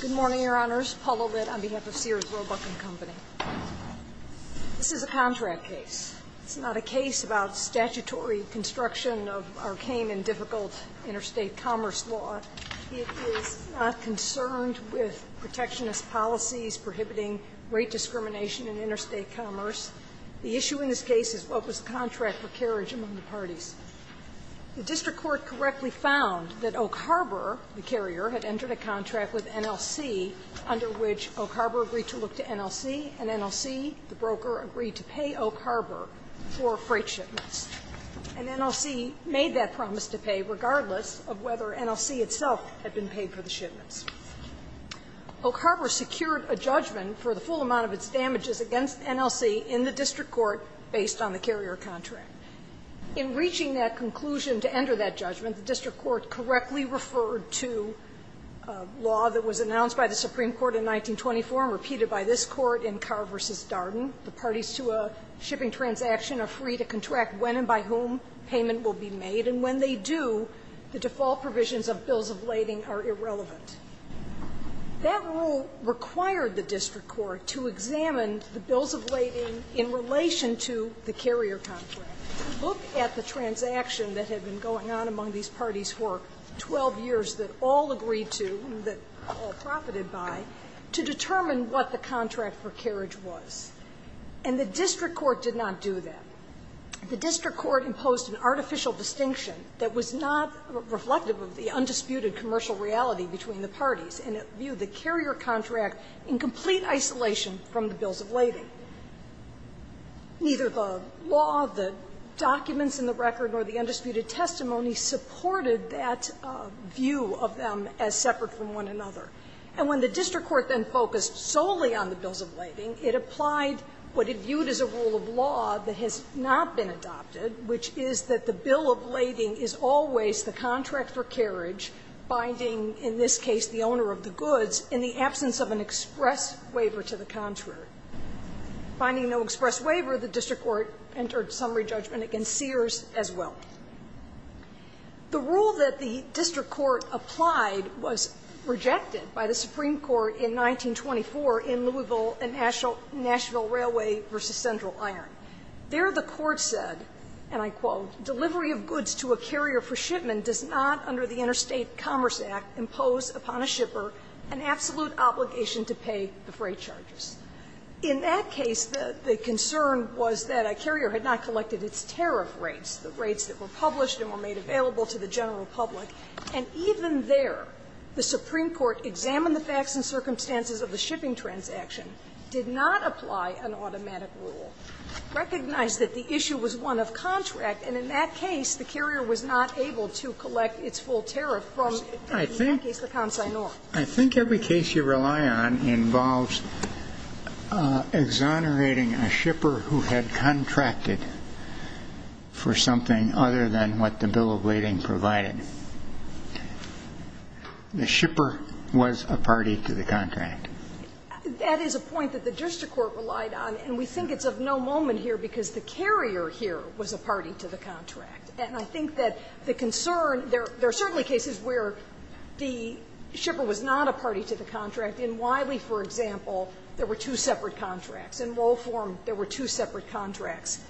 Good morning, Your Honors. Paula Litt on behalf of Sears Roebuck & Co. This is a contract case. It's not a case about statutory construction of arcane and difficult interstate commerce law. It is not concerned with protectionist policies prohibiting rate discrimination in interstate commerce. The issue in this case is what was the contract for carriage among the parties. The district court correctly found that Oak Harbor, the carrier, had entered a contract with NLC under which Oak Harbor agreed to look to NLC, and NLC, the broker, agreed to pay Oak Harbor for freight shipments. And NLC made that promise to pay regardless of whether NLC itself had been paid for the shipments. Oak Harbor secured a judgment for the full amount of its damages against NLC in the district court based on the carrier contract. In reaching that conclusion to enter that judgment, the district court correctly referred to a law that was announced by the Supreme Court in 1924 and repeated by this Court in Carr v. Darden. The parties to a shipping transaction are free to contract when and by whom payment will be made, and when they do, the default provisions of bills of lading are irrelevant. That rule required the district court to examine the bills of lading in relation to the carrier contract, look at the transaction that had been going on among these parties for 12 years that all agreed to, that all profited by, to determine what the contract for carriage was. And the district court did not do that. The district court imposed an artificial distinction that was not reflective of the undisputed commercial reality between the parties, and it viewed the carrier contract in complete isolation from the bills of lading. Neither the law, the documents in the record, nor the undisputed testimony supported that view of them as separate from one another. And when the district court then focused solely on the bills of lading, it applied what it viewed as a rule of law that has not been adopted, which is that the bill of lading is always the contract for carriage, binding, in this case, the owner of the goods, in the absence of an express waiver to the contractor. Binding no express waiver, the district court entered summary judgment against Sears as well. The rule that the district court applied was rejected by the Supreme Court in 1924 in Louisville and Nashville Railway v. Central Iron. There, the court said, and I quote, "...delivery of goods to a carrier for shipment does not, under the Interstate Commerce Act, impose upon a shipper an absolute obligation to pay the freight charges." In that case, the concern was that a carrier had not collected its tariff rates, the rates that were published and were made available to the general public. And even there, the Supreme Court examined the facts and circumstances of the shipping transaction, did not apply an automatic rule, recognized that the issue was one of contract, and in that case, the carrier was not able to collect its full tariff from, in that case, the consignor. I think every case you rely on involves exonerating a shipper who had contracted for something other than what the bill of lading provided. The shipper was a party to the contract. That is a point that the district court relied on, and we think it's of no moment here because the carrier here was a party to the contract. And I think that the concern, there are certainly cases where the shipper was not a party to the contract. In Wiley, for example, there were two separate contracts. In Wohlform, there were two separate contracts.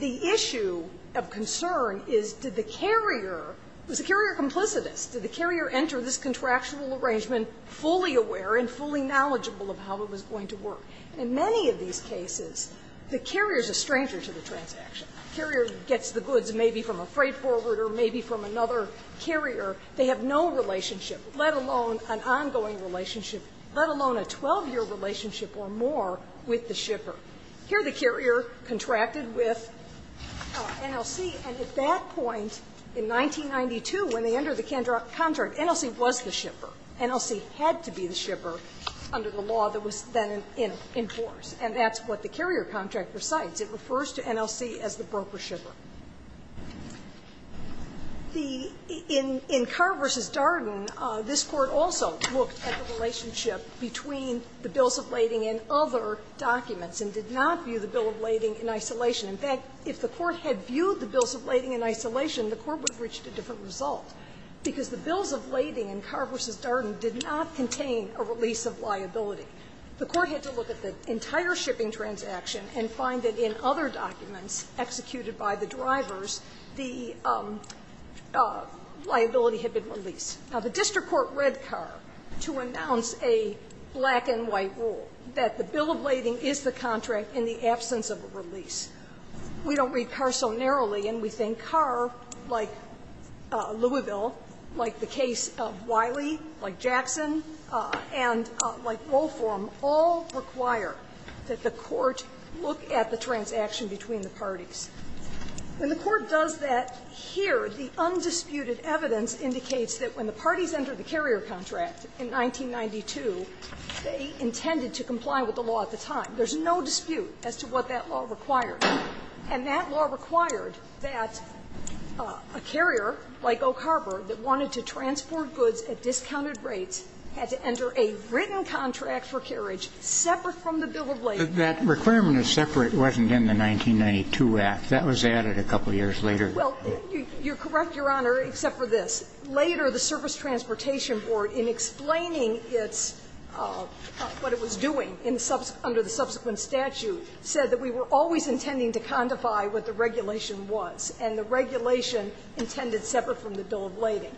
The issue of concern is, did the carrier, was the carrier complicitous? Did the carrier enter this contractual arrangement fully aware and fully knowledgeable of how it was going to work? In many of these cases, the carrier is a stranger to the transaction. Carrier gets the goods maybe from a freight forwarder, maybe from another carrier. They have no relationship, let alone an ongoing relationship, let alone a 12-year relationship or more with the shipper. Here the carrier contracted with NLC, and at that point in 1992, when they entered the contract, NLC was the shipper. NLC had to be the shipper under the law that was then in force, and that's what the carrier contract recites. It refers to NLC as the broker-shipper. The --" in Carr v. Darden, this Court also looked at the relationship between the bills of lading and other documents and did not view the bill of lading in isolation. In fact, if the Court had viewed the bills of lading in isolation, the Court would have reached a different result. Because the bills of lading in Carr v. Darden did not contain a release of liability. The Court had to look at the entire shipping transaction and find that in other documents executed by the drivers, the liability had been released. Now, the district court read Carr to announce a black-and-white rule, that the bill of lading is the contract in the absence of a release. We don't read Carr so narrowly, and we think Carr, like Louisville, like the case of Wiley, like Jackson, and like Wolfram, all require that the Court look at the transaction between the parties. When the Court does that here, the undisputed evidence indicates that when the parties entered the carrier contract in 1992, they intended to comply with the law at the time. There's no dispute as to what that law required. And that law required that a carrier like Oak Harbor that wanted to transport goods at discounted rates had to enter a written contract for carriage separate from the bill of lading. That requirement of separate wasn't in the 1992 Act. That was added a couple of years later. Well, you're correct, Your Honor, except for this. Later, the Service Transportation Board, in explaining its what it was doing in the subsequent statute, said that we were always intending to codify what the regulation was. And the regulation intended separate from the bill of lading.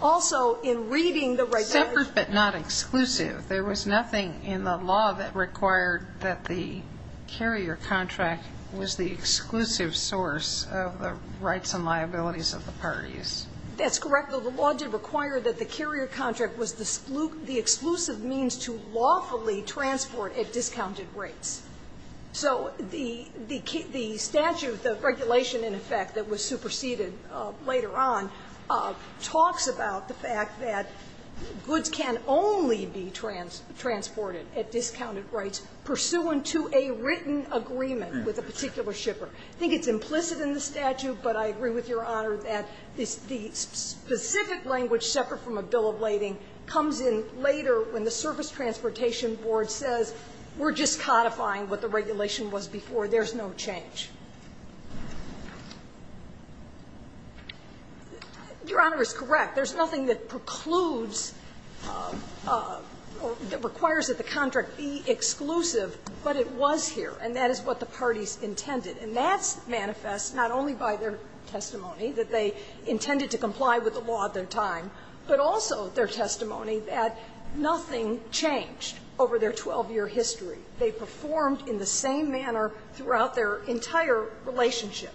Also, in reading the regulation ---- Separate but not exclusive. There was nothing in the law that required that the carrier contract was the exclusive source of the rights and liabilities of the parties. That's correct. The law did require that the carrier contract was the exclusive means to lawfully transport at discounted rates. So the statute, the regulation, in effect, that was superseded later on, talks about the fact that goods can only be transported at discounted rates pursuant to a written agreement with a particular shipper. I think it's implicit in the statute, but I agree with Your Honor that the specific language separate from a bill of lading comes in later when the Service Transportation Board says we're just codifying what the regulation was before. There's no change. Your Honor is correct. There's nothing that precludes or that requires that the contract be exclusive, but it was here, and that is what the parties intended. And that manifests not only by their testimony, that they intended to comply with the law at the time, but also their testimony that nothing changed. Over their 12-year history, they performed in the same manner throughout their entire relationship.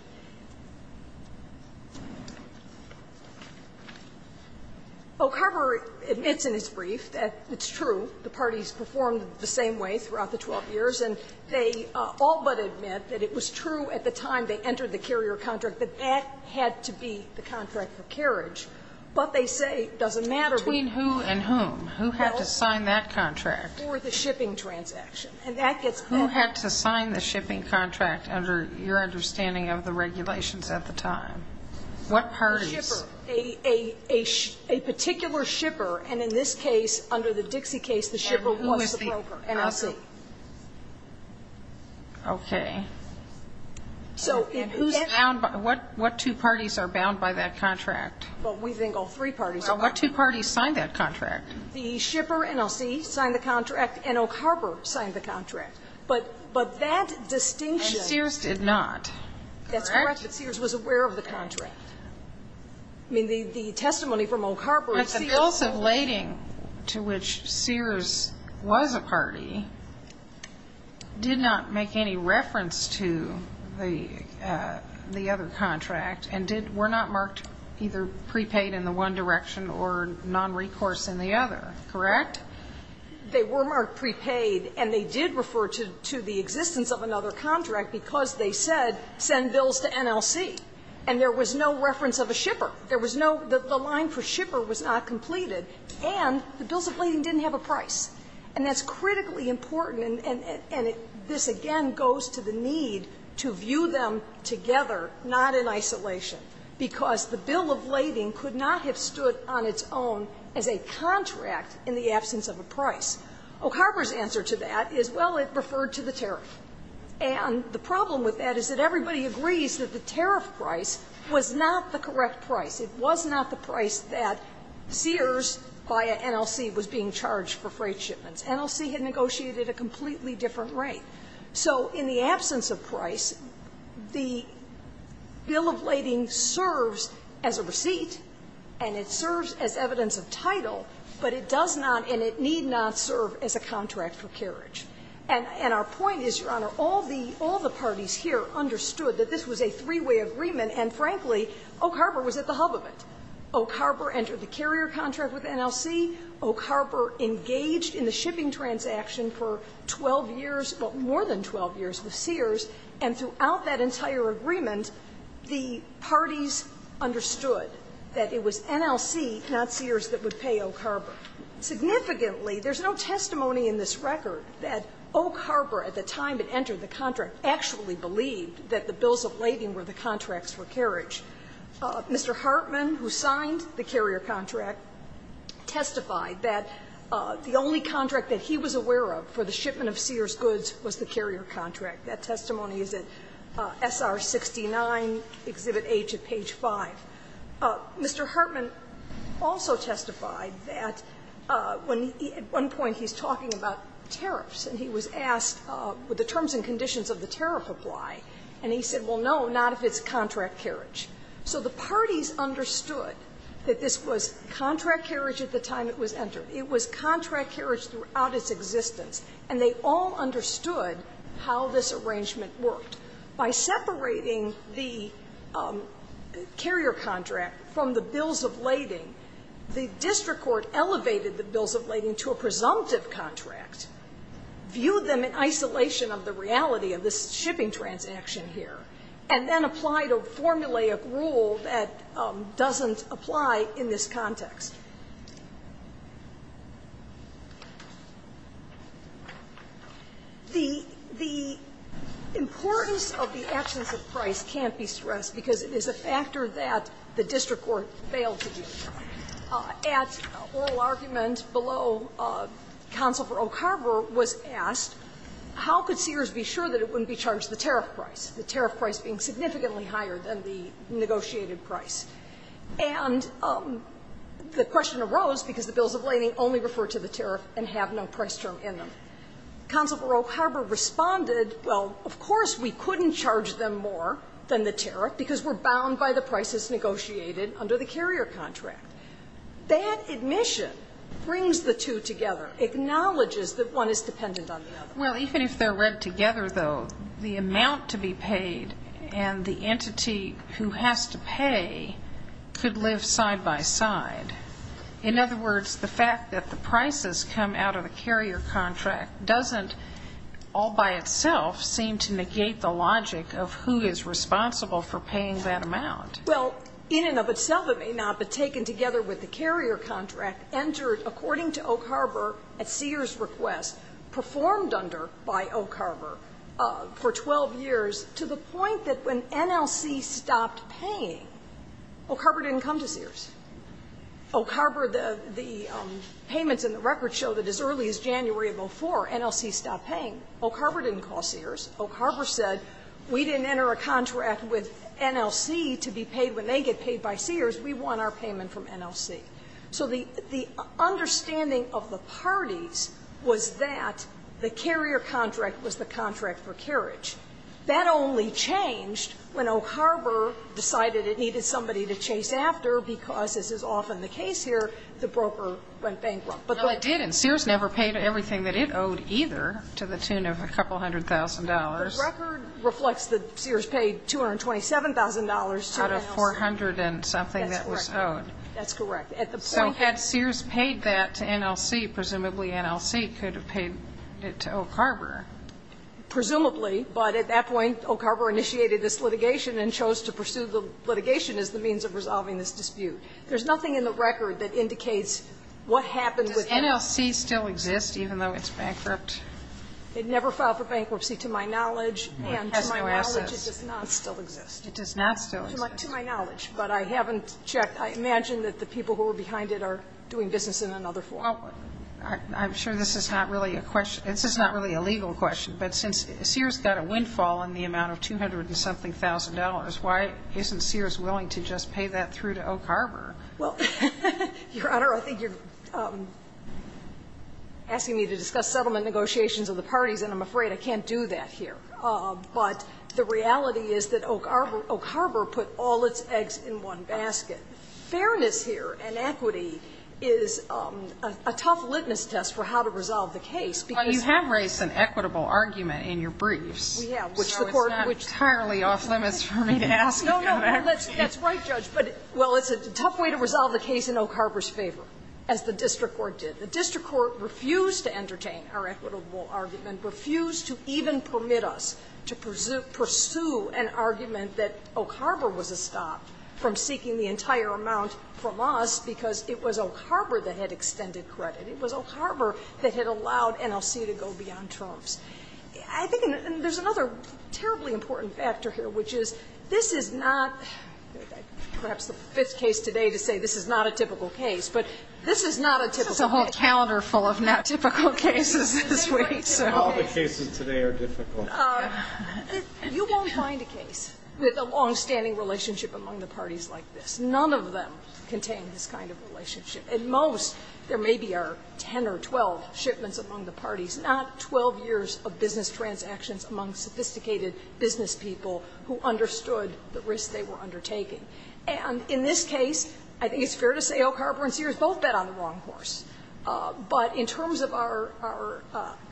Oak Harbor admits in its brief that it's true, the parties performed the same way throughout the 12 years. And they all but admit that it was true at the time they entered the carrier contract that that had to be the contract for carriage. But they say it doesn't matter between who and whom. Who had to sign that contract? For the shipping transaction. And that gets corroborated. Who had to sign the shipping contract under your understanding of the regulations at the time? What parties? The shipper. A particular shipper. And in this case, under the Dixie case, the shipper was the broker, NLC. Okay. So who's bound by what? What two parties are bound by that contract? Well, we think all three parties are bound. What two parties signed that contract? The shipper, NLC, signed the contract. And Oak Harbor signed the contract. But that distinction. And Sears did not, correct? That's correct. But Sears was aware of the contract. I mean, the testimony from Oak Harbor is Sears. But the appeals of lading to which Sears was a party did not make any reference to the other contract and were not marked either prepaid in the one direction or nonrecourse in the other. Correct? They were marked prepaid. And they did refer to the existence of another contract because they said send bills to NLC. And there was no reference of a shipper. There was no the line for shipper was not completed. And the bills of lading didn't have a price. And that's critically important. And this, again, goes to the need to view them together, not in isolation, because the bill of lading could not have stood on its own as a contract in the absence of a price. Oak Harbor's answer to that is, well, it referred to the tariff. And the problem with that is that everybody agrees that the tariff price was not the correct price. It was not the price that Sears, via NLC, was being charged for freight shipments. NLC had negotiated a completely different rate. So in the absence of price, the bill of lading serves as a receipt and it serves as evidence of title, but it does not and it need not serve as a contract for carriage. And our point is, Your Honor, all the parties here understood that this was a three-way agreement and, frankly, Oak Harbor was at the hub of it. Oak Harbor entered the carrier contract with NLC. Oak Harbor engaged in the shipping transaction for 12 years, well, more than 12 years with Sears, and throughout that entire agreement, the parties understood that it was NLC, not Sears, that would pay Oak Harbor. Significantly, there's no testimony in this record that Oak Harbor, at the time it entered the contract, actually believed that the bills of lading were the contracts for carriage. Mr. Hartman, who signed the carrier contract, testified that the only contract that he was aware of for the shipment of Sears goods was the carrier contract. That testimony is at SR 69, Exhibit H at page 5. Mr. Hartman also testified that when he at one point he's talking about tariffs and he was asked, would the terms and conditions of the tariff apply, and he said, well, no, not if it's contract carriage. So the parties understood that this was contract carriage at the time it was entered. It was contract carriage throughout its existence, and they all understood how this arrangement worked. By separating the carrier contract from the bills of lading, the district court elevated the bills of lading to a presumptive contract, viewed them in isolation of the reality of this shipping transaction here, and then applied a formulaic rule that doesn't apply in this context. The importance of the absence of price can't be stressed because it is a factor that the district court failed to do. At an oral argument below, counsel for Oak Harbor was asked, how could Sears be sure that it wouldn't be charged the tariff price, the tariff price being significantly higher than the negotiated price? And the question arose because the bills of lading only refer to the tariff and have no price term in them. Counsel for Oak Harbor responded, well, of course we couldn't charge them more than the tariff because we're bound by the prices negotiated under the carrier contract. That admission brings the two together, acknowledges that one is dependent on the other. Well, even if they're read together, though, the amount to be paid and the entity who has to pay could live side by side. In other words, the fact that the prices come out of the carrier contract doesn't all by itself seem to negate the logic of who is responsible for paying that amount. Well, in and of itself it may not, but taken together with the carrier contract entered, according to Oak Harbor at Sears' request, performed under by Oak Harbor for 12 years to the point that when NLC stopped paying, Oak Harbor didn't come to Sears. Oak Harbor, the payments in the record showed that as early as January of 2004 NLC stopped paying. Oak Harbor didn't call Sears. Oak Harbor said we didn't enter a contract with NLC to be paid when they get paid by Sears. We want our payment from NLC. So the understanding of the parties was that the carrier contract was the contract for carriage. That only changed when Oak Harbor decided it needed somebody to chase after because as is often the case here, the broker went bankrupt. Well, it didn't. Sears never paid everything that it owed either to the tune of a couple hundred thousand dollars. The record reflects that Sears paid $227,000 to NLC. Out of 400 and something that was owed. That's correct. So had Sears paid that to NLC, presumably NLC could have paid it to Oak Harbor. Presumably. But at that point Oak Harbor initiated this litigation and chose to pursue the litigation as the means of resolving this dispute. There's nothing in the record that indicates what happened with NLC. Does NLC still exist even though it's bankrupt? It never filed for bankruptcy to my knowledge and to my knowledge it does not still exist. It does not still exist. To my knowledge. But I haven't checked. I imagine that the people who were behind it are doing business in another form. Well, I'm sure this is not really a question. This is not really a legal question. But since Sears got a windfall in the amount of 200 and something thousand dollars, why isn't Sears willing to just pay that through to Oak Harbor? Well, Your Honor, I think you're asking me to discuss settlement negotiations of the parties and I'm afraid I can't do that here. But the reality is that Oak Harbor put all its eggs in one basket. Fairness here and equity is a tough litmus test for how to resolve the case. Well, you have raised an equitable argument in your briefs. We have. So it's not entirely off limits for me to ask you that. No, no. That's right, Judge. But, well, it's a tough way to resolve the case in Oak Harbor's favor, as the district court did. The district court refused to entertain our equitable argument, refused to even permit us to pursue an argument that Oak Harbor was a stop from seeking the entire amount from us because it was Oak Harbor that had extended credit. It was Oak Harbor that had allowed NLC to go beyond terms. I think there's another terribly important factor here, which is this is not perhaps the fifth case today to say this is not a typical case. But this is not a typical case. This is a whole calendar full of not typical cases this week. All the cases today are difficult. You won't find a case with a longstanding relationship among the parties like this. None of them contain this kind of relationship. At most, there may be our 10 or 12 shipments among the parties, not 12 years of business transactions among sophisticated business people who understood the risk they were undertaking. And in this case, I think it's fair to say Oak Harbor and Sears both bet on the wrong course. But in terms of our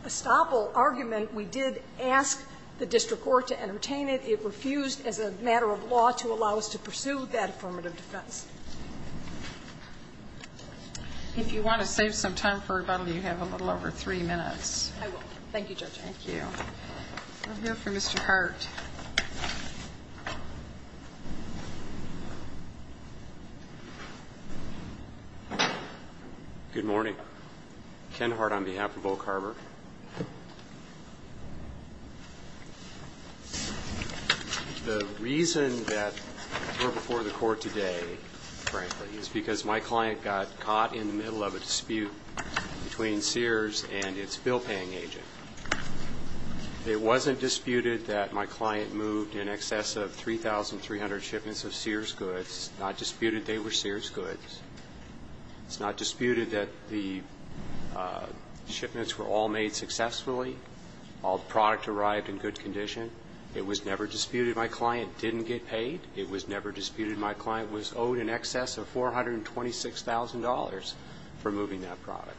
estoppel argument, we did ask the district court to entertain it. It refused as a matter of law to allow us to pursue that affirmative defense. If you want to save some time for rebuttal, you have a little over three minutes. I will. Thank you, Judge. Thank you. We'll hear from Mr. Hart. Good morning. Ken Hart on behalf of Oak Harbor. The reason that we're before the court today, frankly, is because my client got caught in the middle of a dispute between Sears and its bill-paying agent. It wasn't disputed that my client moved in excess of 3,300 shipments of Sears goods. It's not disputed they were Sears goods. It's not disputed that the shipments were all made successfully, all product arrived in good condition. It was never disputed my client didn't get paid. It was never disputed my client was owed in excess of $426,000 for moving that product.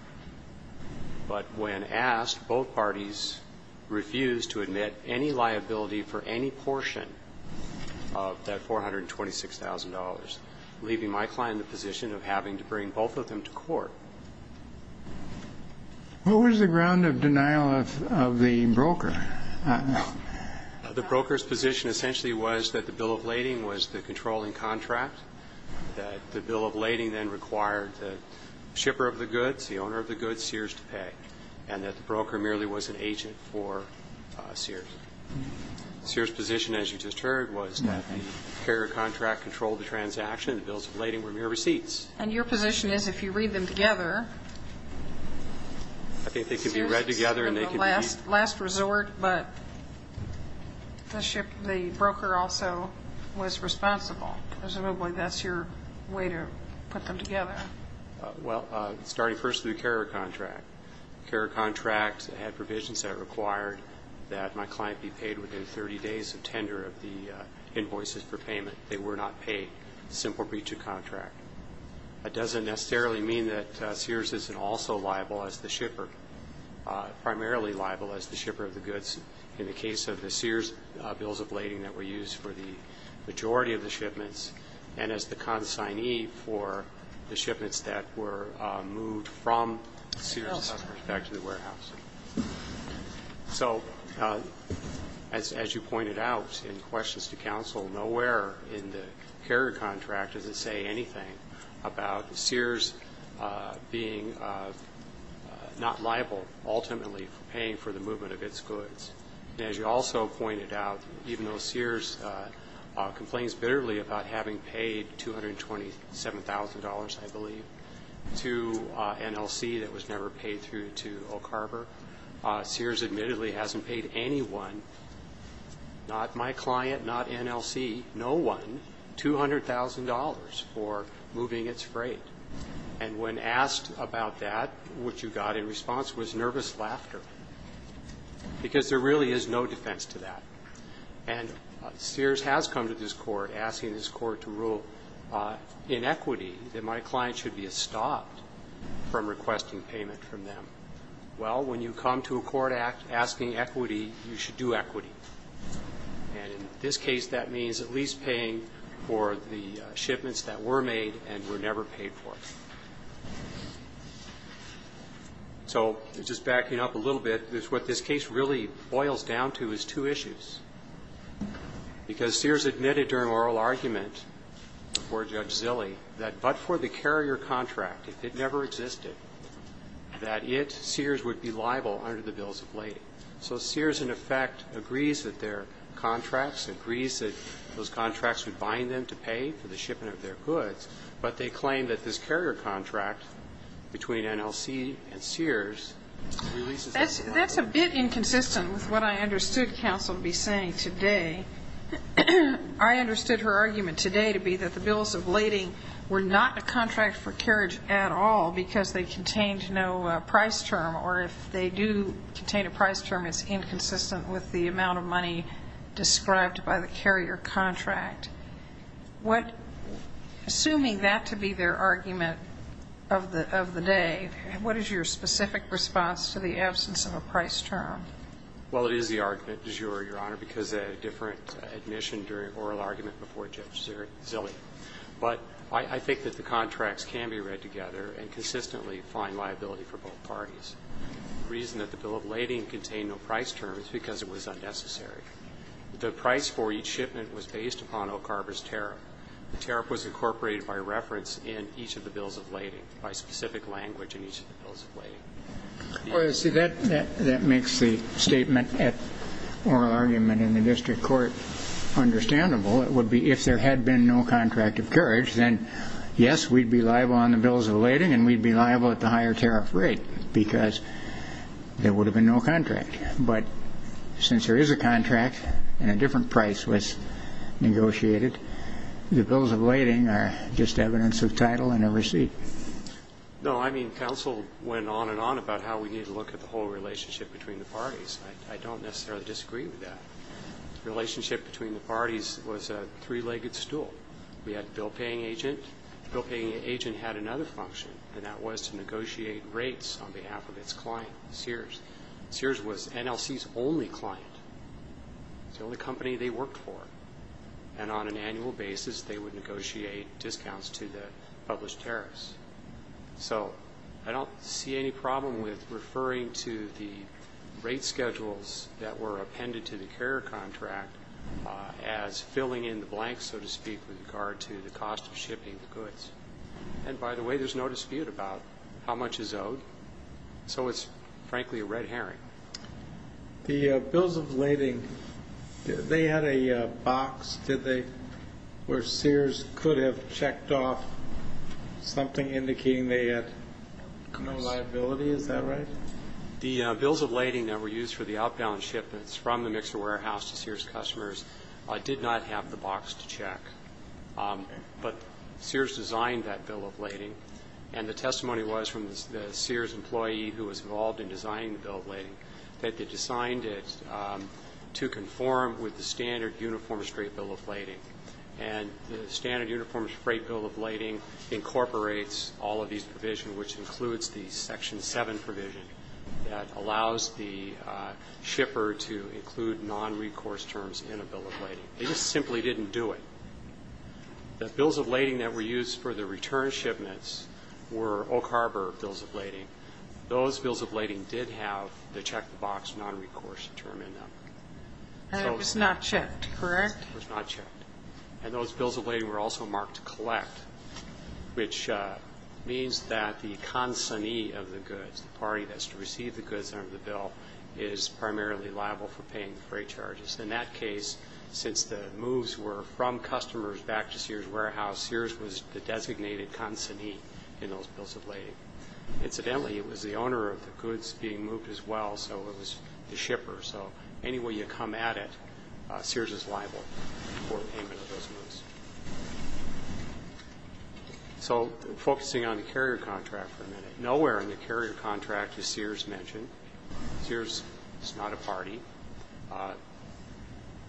But when asked, both parties refused to admit any liability for any portion of that $426,000, leaving my client in the position of having to bring both of them to court. What was the ground of denial of the broker? The broker's position essentially was that the bill of lading was the controlling contract, that the bill of lading then required the shipper of the goods, the owner of the goods, Sears, to pay, and that the broker merely was an agent for Sears. Sears' position, as you just heard, was that the carrier contract controlled the transaction and the bills of lading were mere receipts. And your position is if you read them together, Sears was in the last resort, but the broker also was responsible. Presumably that's your way to put them together. Well, starting first with the carrier contract. The carrier contract had provisions that required that my client be paid within 30 days of tender of the invoices for payment. They were not paid simply to contract. That doesn't necessarily mean that Sears isn't also liable as the shipper, primarily liable as the shipper of the goods in the case of the Sears bills of lading that were used for the majority of the shipments and as the consignee for the shipments that were moved from Sears back to the warehouse. So as you pointed out in questions to counsel, nowhere in the carrier contract does it say anything about Sears being not liable ultimately for paying for the movement of its goods. As you also pointed out, even though Sears complains bitterly about having paid $227,000, I believe, to NLC that was never paid through to Oak Harbor, Sears admittedly hasn't paid anyone, not my client, not NLC, no one $200,000 for moving its freight. And when asked about that, what you got in response was nervous laughter, because there really is no defense to that. And Sears has come to this Court asking this Court to rule in equity that my client should be stopped from requesting payment from them. Well, when you come to a court asking equity, you should do equity. And in this case, that means at least paying for the shipments that were made and were never paid for. So just backing up a little bit, what this case really boils down to is two issues. Because Sears admitted during oral argument before Judge Zille that but for the carrier contract, if it never existed, that it, Sears, would be liable under the bills of lading. So Sears, in effect, agrees that their contracts, agrees that those contracts would bind them to pay for the shipping of their goods, but they claim that this carrier contract between NLC and Sears releases them from liability. That's a bit inconsistent with what I understood counsel to be saying today. I understood her argument today to be that the bills of lading were not a contract for carriage at all because they contained no price term, or if they do contain a price term, it's inconsistent with the amount of money described by the carrier contract. Assuming that to be their argument of the day, what is your specific response to the absence of a price term? Well, it is the argument, Your Honor, because they had a different admission during oral argument before Judge Zille. But I think that the contracts can be read together and consistently find liability for both parties. The reason that the bill of lading contained no price term is because it was unnecessary. The price for each shipment was based upon Oak Harbor's tariff. The tariff was incorporated by reference in each of the bills of lading, by specific language in each of the bills of lading. Well, you see, that makes the statement at oral argument in the district court understandable. It would be if there had been no contract of carriage, then, yes, we'd be liable on the bills of lading and we'd be liable at the higher tariff rate because there would have been no contract. But since there is a contract and a different price was negotiated, the bills of lading are just evidence of title and a receipt. No, I mean, counsel went on and on about how we need to look at the whole relationship between the parties. I don't necessarily disagree with that. The relationship between the parties was a three-legged stool. We had a bill-paying agent. The bill-paying agent had another function, and that was to negotiate rates on behalf of its client, Sears. Sears was NLC's only client. It was the only company they worked for. And on an annual basis, they would negotiate discounts to the published tariffs. So I don't see any problem with referring to the rate schedules that were appended to the carrier contract as filling in the blanks, so to speak, with regard to the cost of shipping the goods. And, by the way, there's no dispute about how much is owed. So it's, frankly, a red herring. The bills of lading, they had a box, did they, where Sears could have checked off something indicating they had no liability? Is that right? The bills of lading that were used for the outbound shipments from the mixer warehouse to Sears customers did not have the box to check. But Sears designed that bill of lading, and the testimony was from the Sears employee who was involved in designing the bill of lading, that they designed it to conform with the standard uniform straight bill of lading. And the standard uniform straight bill of lading incorporates all of these provisions, which includes the Section 7 provision that allows the shipper to include non-recourse terms in a bill of lading. They just simply didn't do it. The bills of lading that were used for the return shipments were Oak Harbor bills of lading. Those bills of lading did have the check the box non-recourse term in them. And it was not checked, correct? It was not checked. And those bills of lading were also marked to collect, which means that the consignee of the goods, the party that's to receive the goods under the bill, is primarily liable for paying the freight charges. In that case, since the moves were from customers back to Sears Warehouse, Sears was the designated consignee in those bills of lading. Incidentally, it was the owner of the goods being moved as well, so it was the shipper. So any way you come at it, Sears is liable for payment of those moves. So focusing on the carrier contract for a minute. Nowhere in the carrier contract is Sears mentioned. Sears is not a party.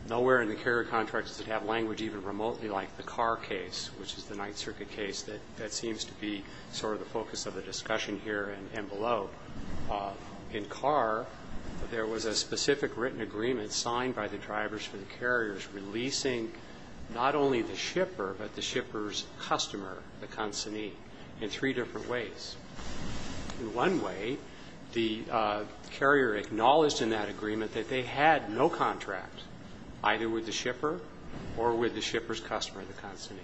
Nowhere in the carrier contract does it have language even remotely like the car case, which is the Ninth Circuit case that seems to be sort of the focus of the discussion here and below. In car, there was a specific written agreement signed by the drivers for the carriers releasing not only the shipper but the shipper's customer, the consignee, in three different ways. In one way, the carrier acknowledged in that agreement that they had no contract, either with the shipper or with the shipper's customer, the consignee.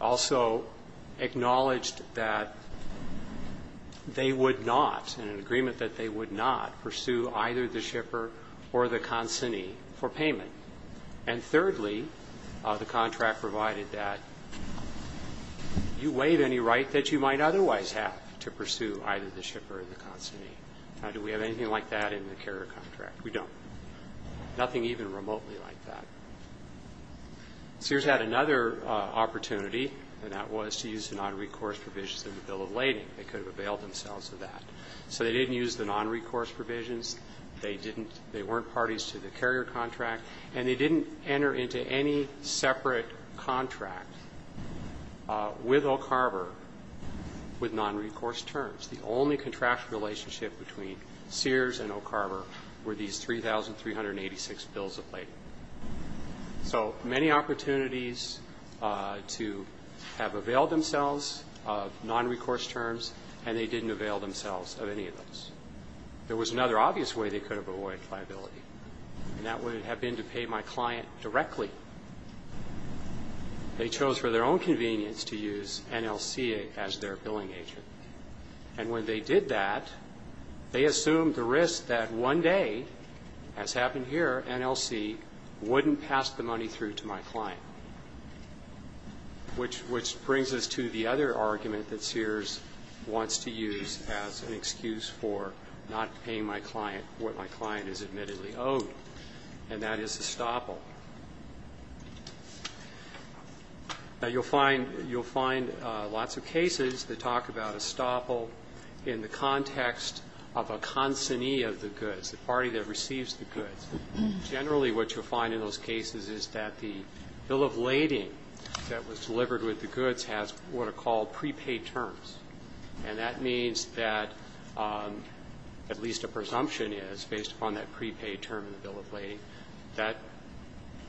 Also acknowledged that they would not, in an agreement that they would not, pursue either the shipper or the consignee for payment. And thirdly, the contract provided that you waive any right that you might otherwise have to pursue either the shipper or the consignee. Now, do we have anything like that in the carrier contract? We don't. Nothing even remotely like that. Sears had another opportunity, and that was to use the nonrecourse provisions in the Bill of Lading. They could have availed themselves of that. So they didn't use the nonrecourse provisions. They didn't they weren't parties to the carrier contract. And they didn't enter into any separate contract with O'Carver with nonrecourse terms. The only contractual relationship between Sears and O'Carver were these 3,386 Bills of Lading. So many opportunities to have availed themselves of nonrecourse terms, and they didn't avail themselves of any of those. There was another obvious way they could have avoided liability, and that would have been to pay my client directly. They chose for their own convenience to use NLC as their billing agent. And when they did that, they assumed the risk that one day, as happened here, NLC wouldn't pass the money through to my client, which brings us to the other argument that Sears wants to use as an excuse for not paying my client is admittedly owed, and that is estoppel. Now, you'll find lots of cases that talk about estoppel in the context of a consignee of the goods, the party that receives the goods. Generally, what you'll find in those cases is that the Bill of Lading that was delivered with the goods has what are called prepaid terms. And that means that at least a presumption is, based upon that prepaid term in the Bill of Lading, that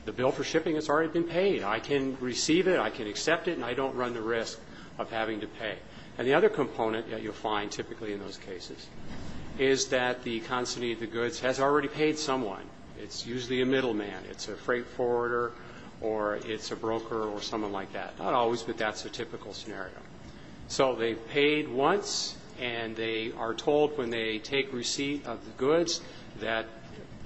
the bill for shipping has already been paid. I can receive it, I can accept it, and I don't run the risk of having to pay. And the other component that you'll find typically in those cases is that the consignee of the goods has already paid someone. It's usually a middleman. It's a freight forwarder or it's a broker or someone like that. Not always, but that's a typical scenario. So they've paid once, and they are told when they take receipt of the goods that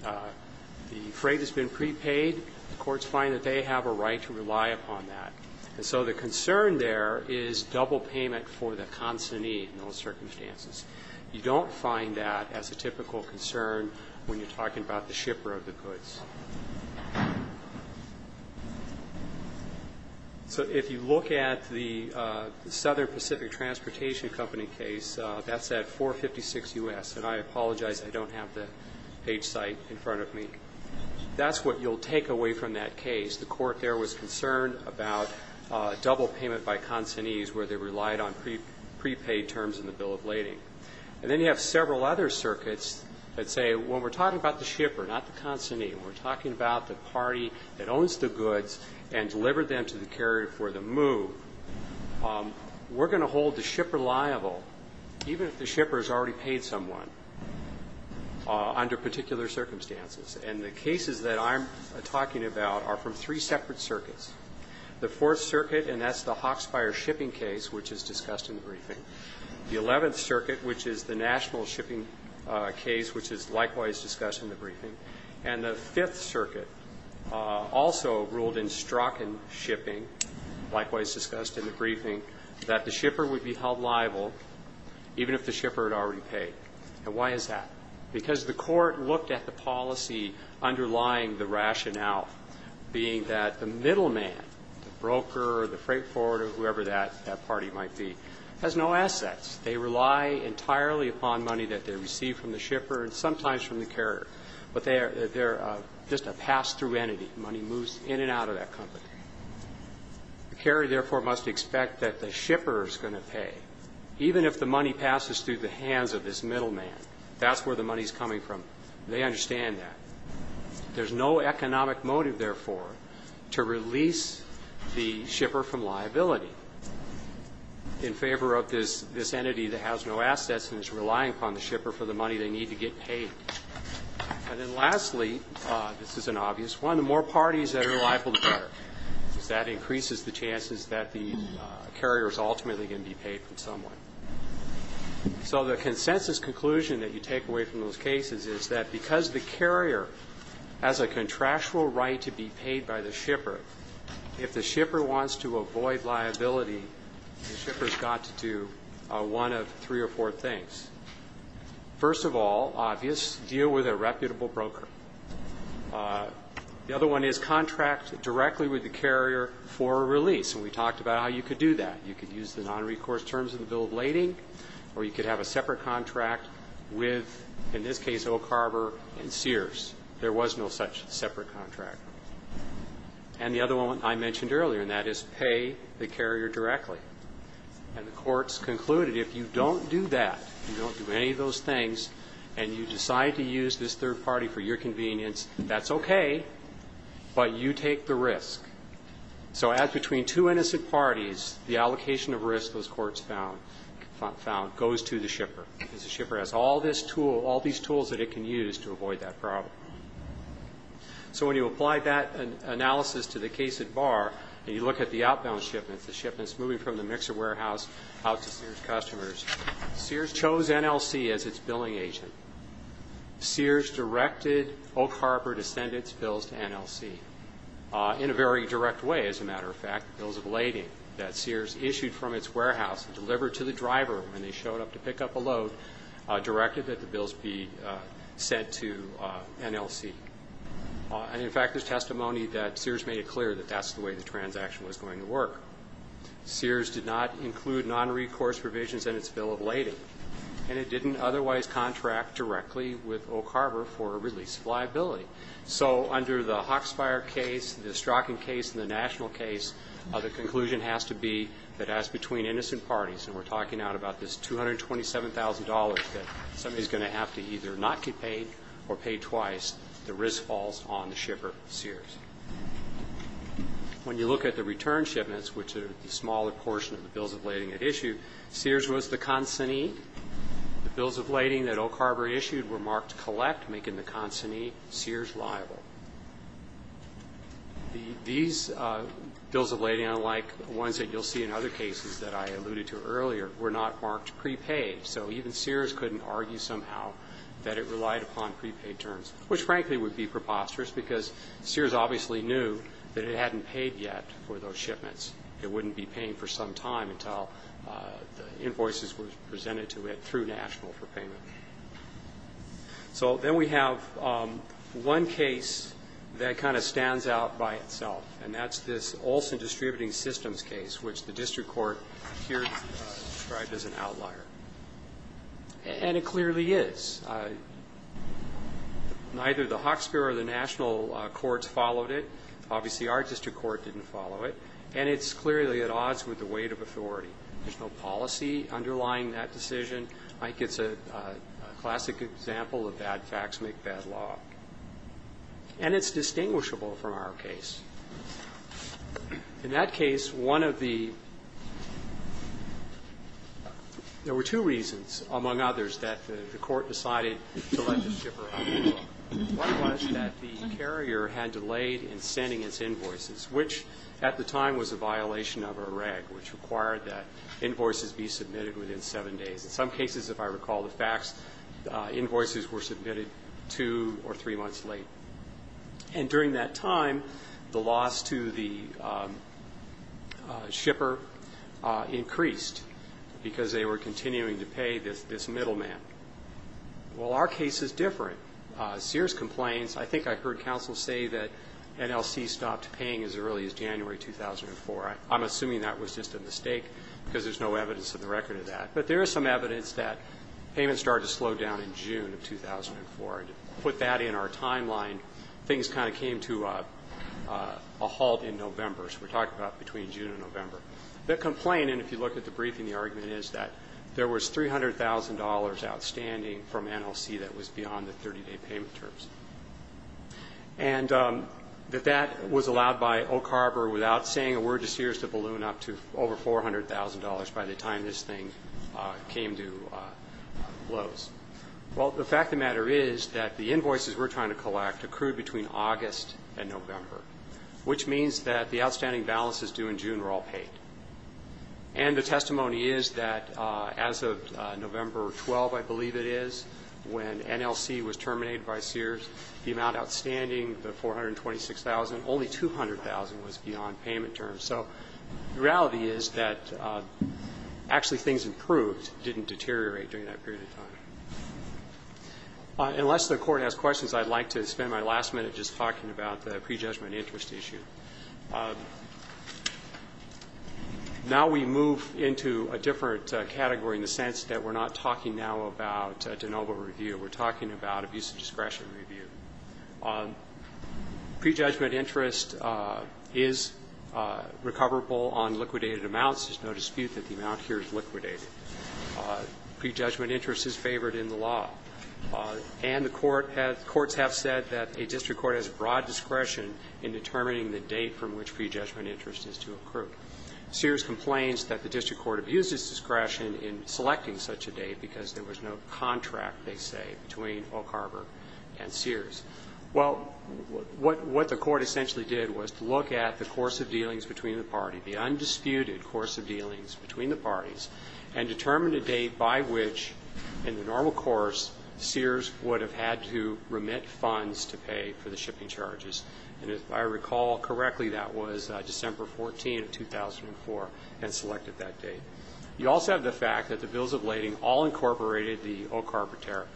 the freight has been prepaid. The courts find that they have a right to rely upon that. And so the concern there is double payment for the consignee in those circumstances. You don't find that as a typical concern when you're talking about the shipper of the goods. So if you look at the Southern Pacific Transportation Company case, that's at 456 U.S., and I apologize, I don't have the page site in front of me. That's what you'll take away from that case. The court there was concerned about double payment by consignees where they relied on prepaid terms in the Bill of Lading. And then you have several other circuits that say, when we're talking about the shipper, not the consignee, when we're talking about the party that owns the goods and delivered them to the carrier for the move, we're going to hold the shipper liable even if the shipper has already paid someone under particular circumstances. And the cases that I'm talking about are from three separate circuits. The Fourth Circuit, and that's the Hawkspire shipping case, which is discussed in the briefing. The Eleventh Circuit, which is the national shipping case, which is likewise discussed in the briefing. And the Fifth Circuit also ruled in Strachan shipping, likewise discussed in the briefing, that the shipper would be held liable even if the shipper had already paid. And why is that? Because the court looked at the policy underlying the rationale being that the middleman, the broker or the freight forwarder, whoever that party might be, has no assets. They rely entirely upon money that they receive from the shipper and sometimes from the carrier. But they're just a pass-through entity. Money moves in and out of that company. The carrier, therefore, must expect that the shipper is going to pay, even if the money passes through the hands of this middleman. That's where the money is coming from. They understand that. There's no economic motive, therefore, to release the shipper from liability in favor of this entity that has no assets and is relying upon the shipper for the money they need to get paid. And then lastly, this is an obvious one, the more parties that are liable, the better, because that increases the chances that the carrier is ultimately going to be paid from someone. So the consensus conclusion that you take away from those cases is that because the carrier has a contractual right to be paid by the shipper, if the shipper wants to avoid liability, the shipper's got to do one of three or four things. First of all, obvious, deal with a reputable broker. The other one is contract directly with the carrier for a release, and we talked about how you could do that. You could use the nonrecourse terms of the bill of lading, or you could have a separate contract with, in this case, Oak Harbor and Sears. There was no such separate contract. And the other one I mentioned earlier, and that is pay the carrier directly. And the courts concluded if you don't do that, you don't do any of those things, and you decide to use this third party for your convenience, that's okay, but you take the risk. So as between two innocent parties, the allocation of risk, those courts found, goes to the shipper, because the shipper has all these tools that it can use to avoid that problem. So when you apply that analysis to the case at Barr, and you look at the outbound shipments, the shipments moving from the mixer warehouse out to Sears customers, Sears chose NLC as its billing agent. Sears directed Oak Harbor to send its bills to NLC in a very direct way, as a matter of fact, the bills of lading that Sears issued from its warehouse and delivered to the driver when they showed up to pick up a load directed that the bills be sent to NLC. And, in fact, there's testimony that Sears made it clear that that's the way the transaction was going to work. Sears did not include non-recourse provisions in its bill of lading, and it didn't otherwise contract directly with Oak Harbor for a release of liability. So under the Hawkspire case, the Strzokin case, and the National case, the conclusion has to be that as between innocent parties, and we're talking about this $227,000 that somebody's going to have to either not get paid or pay twice, the risk falls on the shipper, Sears. When you look at the return shipments, which are the smaller portion of the bills of lading it issued, Sears was the consignee. The bills of lading that Oak Harbor issued were marked collect, making the consignee Sears liable. These bills of lading, unlike ones that you'll see in other cases that I alluded to earlier, were not marked prepaid. So even Sears couldn't argue somehow that it relied upon prepaid terms, which, frankly, would be preposterous because Sears obviously knew that it hadn't paid yet for those shipments. It wouldn't be paying for some time until the invoices were presented to it through National for payment. So then we have one case that kind of stands out by itself, and that's this Olson Distributing Systems case, which the district court here described as an outlier. And it clearly is. Neither the Hawkesbury or the National courts followed it. Obviously, our district court didn't follow it. And it's clearly at odds with the weight of authority. There's no policy underlying that decision. Mike, it's a classic example of bad facts make bad law. And it's distinguishable from our case. In that case, one of the --. There were two reasons, among others, that the court decided to let this ship around the block. One was that the carrier had delayed in sending its invoices, which at the time was a violation of a reg, which required that invoices be submitted within seven days. In some cases, if I recall the facts, invoices were submitted two or three months late. And during that time, the loss to the shipper increased because they were continuing to pay this middleman. Well, our case is different. Sears complains. I think I heard counsel say that NLC stopped paying as early as January 2004. I'm assuming that was just a mistake because there's no evidence in the record of that. But there is some evidence that payments started to slow down in June of 2004. And to put that in our timeline, things kind of came to a halt in November. So we're talking about between June and November. The complaint, and if you look at the briefing, the argument is that there was $300,000 outstanding from NLC that was beyond the 30-day payment terms. And that that was allowed by Oak Harbor without saying a word to Sears to balloon up to over $400,000 by the time this thing came to a close. Well, the fact of the matter is that the invoices we're trying to collect accrued between August and November, which means that the outstanding balances due in June were all paid. And the testimony is that as of November 12, I believe it is, when NLC was terminated by Sears, the amount outstanding, the $426,000, only $200,000 was beyond payment terms. So the reality is that actually things improved, didn't deteriorate during that period of time. Unless the Court has questions, I'd like to spend my last minute just talking about the prejudgment interest issue. Now we move into a different category in the sense that we're not talking now about de novo review. We're talking about abuse of discretion review. Prejudgment interest is recoverable on liquidated amounts. There's no dispute that the amount here is liquidated. Prejudgment interest is favored in the law. And the Court has – courts have said that a district court has broad discretion in determining the date from which prejudgment interest is to accrue. Sears complains that the district court abuses discretion in selecting such a date because there was no contract, they say, between Oak Harbor and Sears. Well, what the Court essentially did was to look at the course of dealings between the parties, the undisputed course of dealings between the parties, and determine a date by which in the normal course Sears would have had to remit funds to pay for the shipping charges. And if I recall correctly, that was December 14, 2004, and selected that date. You also have the fact that the bills of lading all incorporated the Oak Harbor tariff.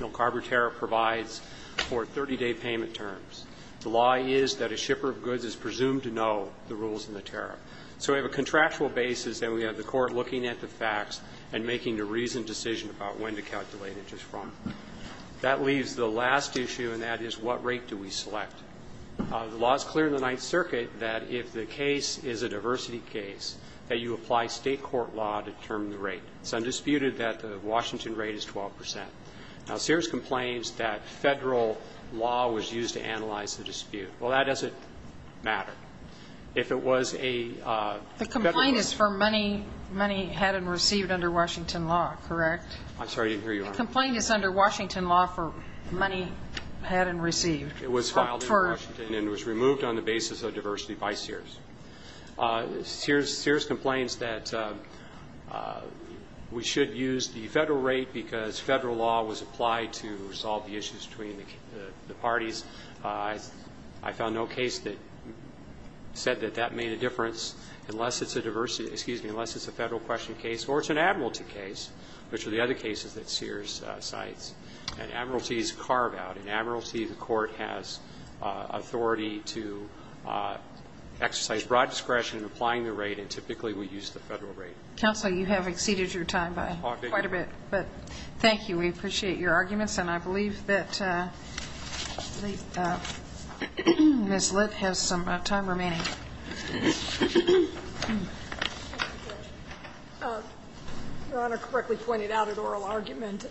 The Oak Harbor tariff provides for 30-day payment terms. The law is that a shipper of goods is presumed to know the rules in the tariff. So we have a contractual basis, and we have the court looking at the facts and making a reasoned decision about when to calculate interest from. That leaves the last issue, and that is what rate do we select? The law is clear in the Ninth Circuit that if the case is a diversity case, that you apply State court law to determine the rate. It's undisputed that the Washington rate is 12 percent. Now, Sears complains that Federal law was used to analyze the dispute. Well, that doesn't matter. If it was a Federal law. The complaint is for money had and received under Washington law, correct? I'm sorry, I didn't hear you, Your Honor. The complaint is under Washington law for money had and received. It was filed in Washington and was removed on the basis of diversity by Sears. Sears complains that we should use the Federal rate because Federal law was applied to resolve the issues between the parties. I found no case that said that that made a difference unless it's a diversity – excuse me, unless it's a Federal question case or it's an admiralty case, which are the other cases that Sears cites. An admiralty is a carve-out. An admiralty, the court has authority to exercise broad discretion in applying the rate, and typically we use the Federal rate. Counsel, you have exceeded your time by quite a bit. But thank you. We appreciate your arguments. And I believe that Ms. Litt has some time remaining. Thank you, Judge. Your Honor correctly pointed out an oral argument.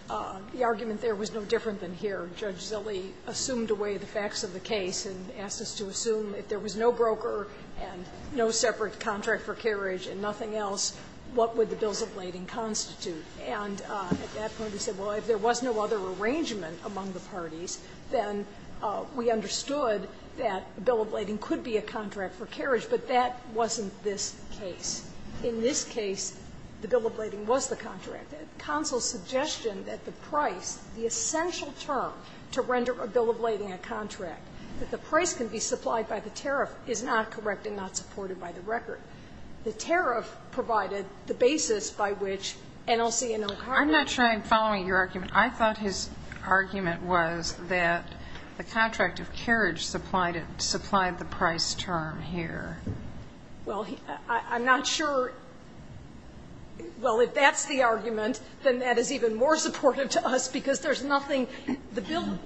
The argument there was no different than here. Judge Zille assumed away the facts of the case and asked us to assume if there was no broker and no separate contract for carriage and nothing else, what would the bills of lading constitute? And at that point he said, well, if there was no other arrangement among the parties, then we understood that a bill of lading could be a contract for carriage, but that wasn't this case. In this case, the bill of lading was the contract. Counsel's suggestion that the price, the essential term to render a bill of lading a contract, that the price can be supplied by the tariff, is not correct and not supported by the record. The tariff provided the basis by which NLC and O'Connor were able to make the case. The argument was that the contract of carriage supplied the price term here. Well, I'm not sure. Well, if that's the argument, then that is even more supportive to us because there's nothing. The bill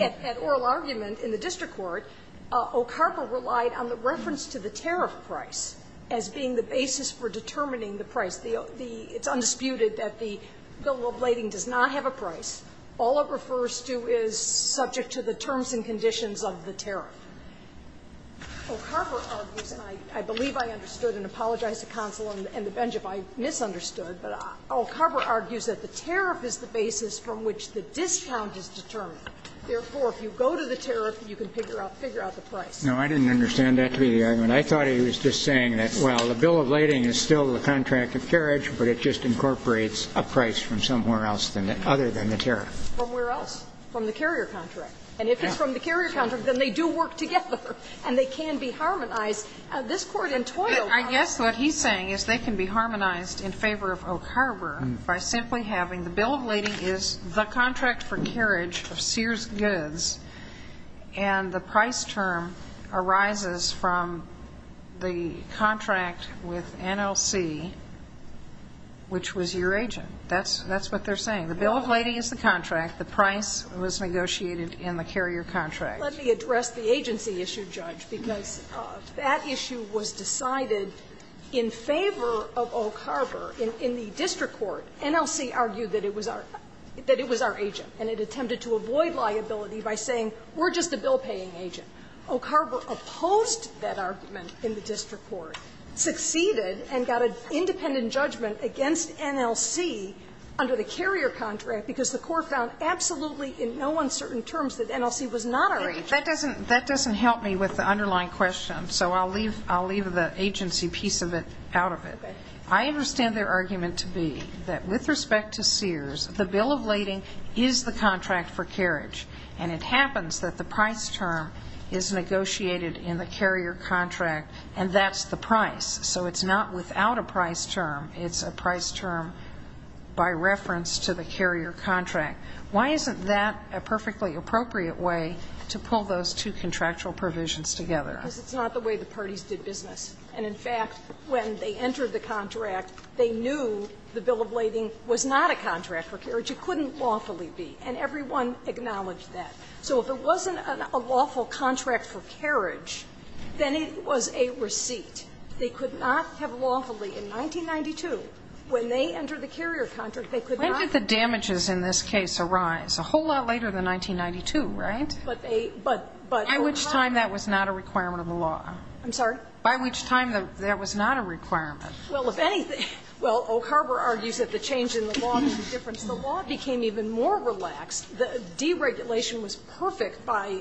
at oral argument in the district court, OCARPA relied on the reference to the tariff price as being the basis for determining the price. It's undisputed that the bill of lading does not have a price. All it refers to is subject to the terms and conditions of the tariff. OCARPA argues, and I believe I understood and apologize to counsel and the bench if I misunderstood, but OCARPA argues that the tariff is the basis from which the discount is determined. Therefore, if you go to the tariff, you can figure out the price. No, I didn't understand that to be the argument. I thought he was just saying that, well, the bill of lading is still the contract of carriage, but it just incorporates a price from somewhere else other than the tariff. From where else? From the carrier contract. And if it's from the carrier contract, then they do work together and they can be harmonized. This Court in Toyota. I guess what he's saying is they can be harmonized in favor of Oak Harbor by simply having the bill of lading is the contract for carriage of Sears Goods and the price last term arises from the contract with NLC, which was your agent. That's what they're saying. The bill of lading is the contract. The price was negotiated in the carrier contract. Let me address the agency issue, Judge, because that issue was decided in favor of Oak Harbor in the district court. NLC argued that it was our agent and it attempted to avoid liability by saying we're just a bill-paying agent. Oak Harbor opposed that argument in the district court, succeeded, and got an independent judgment against NLC under the carrier contract because the court found absolutely in no uncertain terms that NLC was not our agent. That doesn't help me with the underlying question, so I'll leave the agency piece of it out of it. I understand their argument to be that with respect to Sears, the bill of lading is the contract for carriage, and it happens that the price term is negotiated in the carrier contract, and that's the price. So it's not without a price term. It's a price term by reference to the carrier contract. Why isn't that a perfectly appropriate way to pull those two contractual provisions together? Because it's not the way the parties did business. And, in fact, when they entered the contract, they knew the bill of lading was not a contract for carriage. Which it couldn't lawfully be. And everyone acknowledged that. So if it wasn't a lawful contract for carriage, then it was a receipt. They could not have lawfully, in 1992, when they entered the carrier contract, they could not have. Sotomayor, when did the damages in this case arise? A whole lot later than 1992, right? But they, but, but. By which time that was not a requirement of the law. I'm sorry? By which time that was not a requirement. Well, if anything, well, Oak Harbor argues that the change in the law makes a difference because the law became even more relaxed. The deregulation was perfect by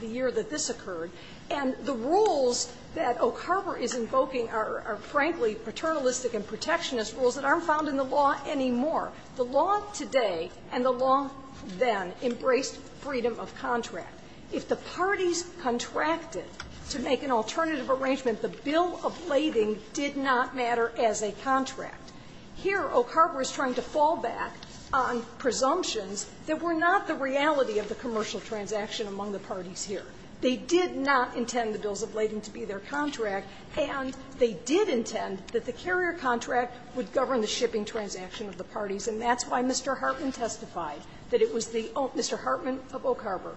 the year that this occurred. And the rules that Oak Harbor is invoking are, frankly, paternalistic and protectionist rules that aren't found in the law anymore. The law today and the law then embraced freedom of contract. If the parties contracted to make an alternative arrangement, the bill of lading did not matter as a contract. Here, Oak Harbor is trying to fall back on presumptions that were not the reality of the commercial transaction among the parties here. They did not intend the bills of lading to be their contract, and they did intend that the carrier contract would govern the shipping transaction of the parties. And that's why Mr. Hartman testified that it was the own, Mr. Hartman of Oak Harbor,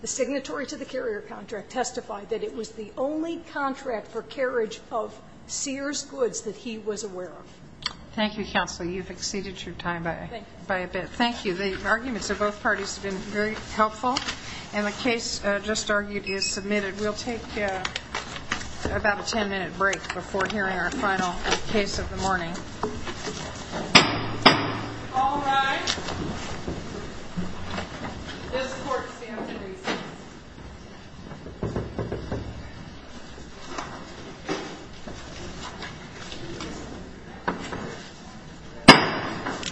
the signatory to the carrier contract, testified that it was the only contract for carriage of Sears goods that he was aware of. Thank you, Counsel. You've exceeded your time by a bit. Thank you. The arguments of both parties have been very helpful. And the case just argued is submitted. We'll take about a 10-minute break before hearing our final case of the morning. All rise. This court stands at ease. Thank you.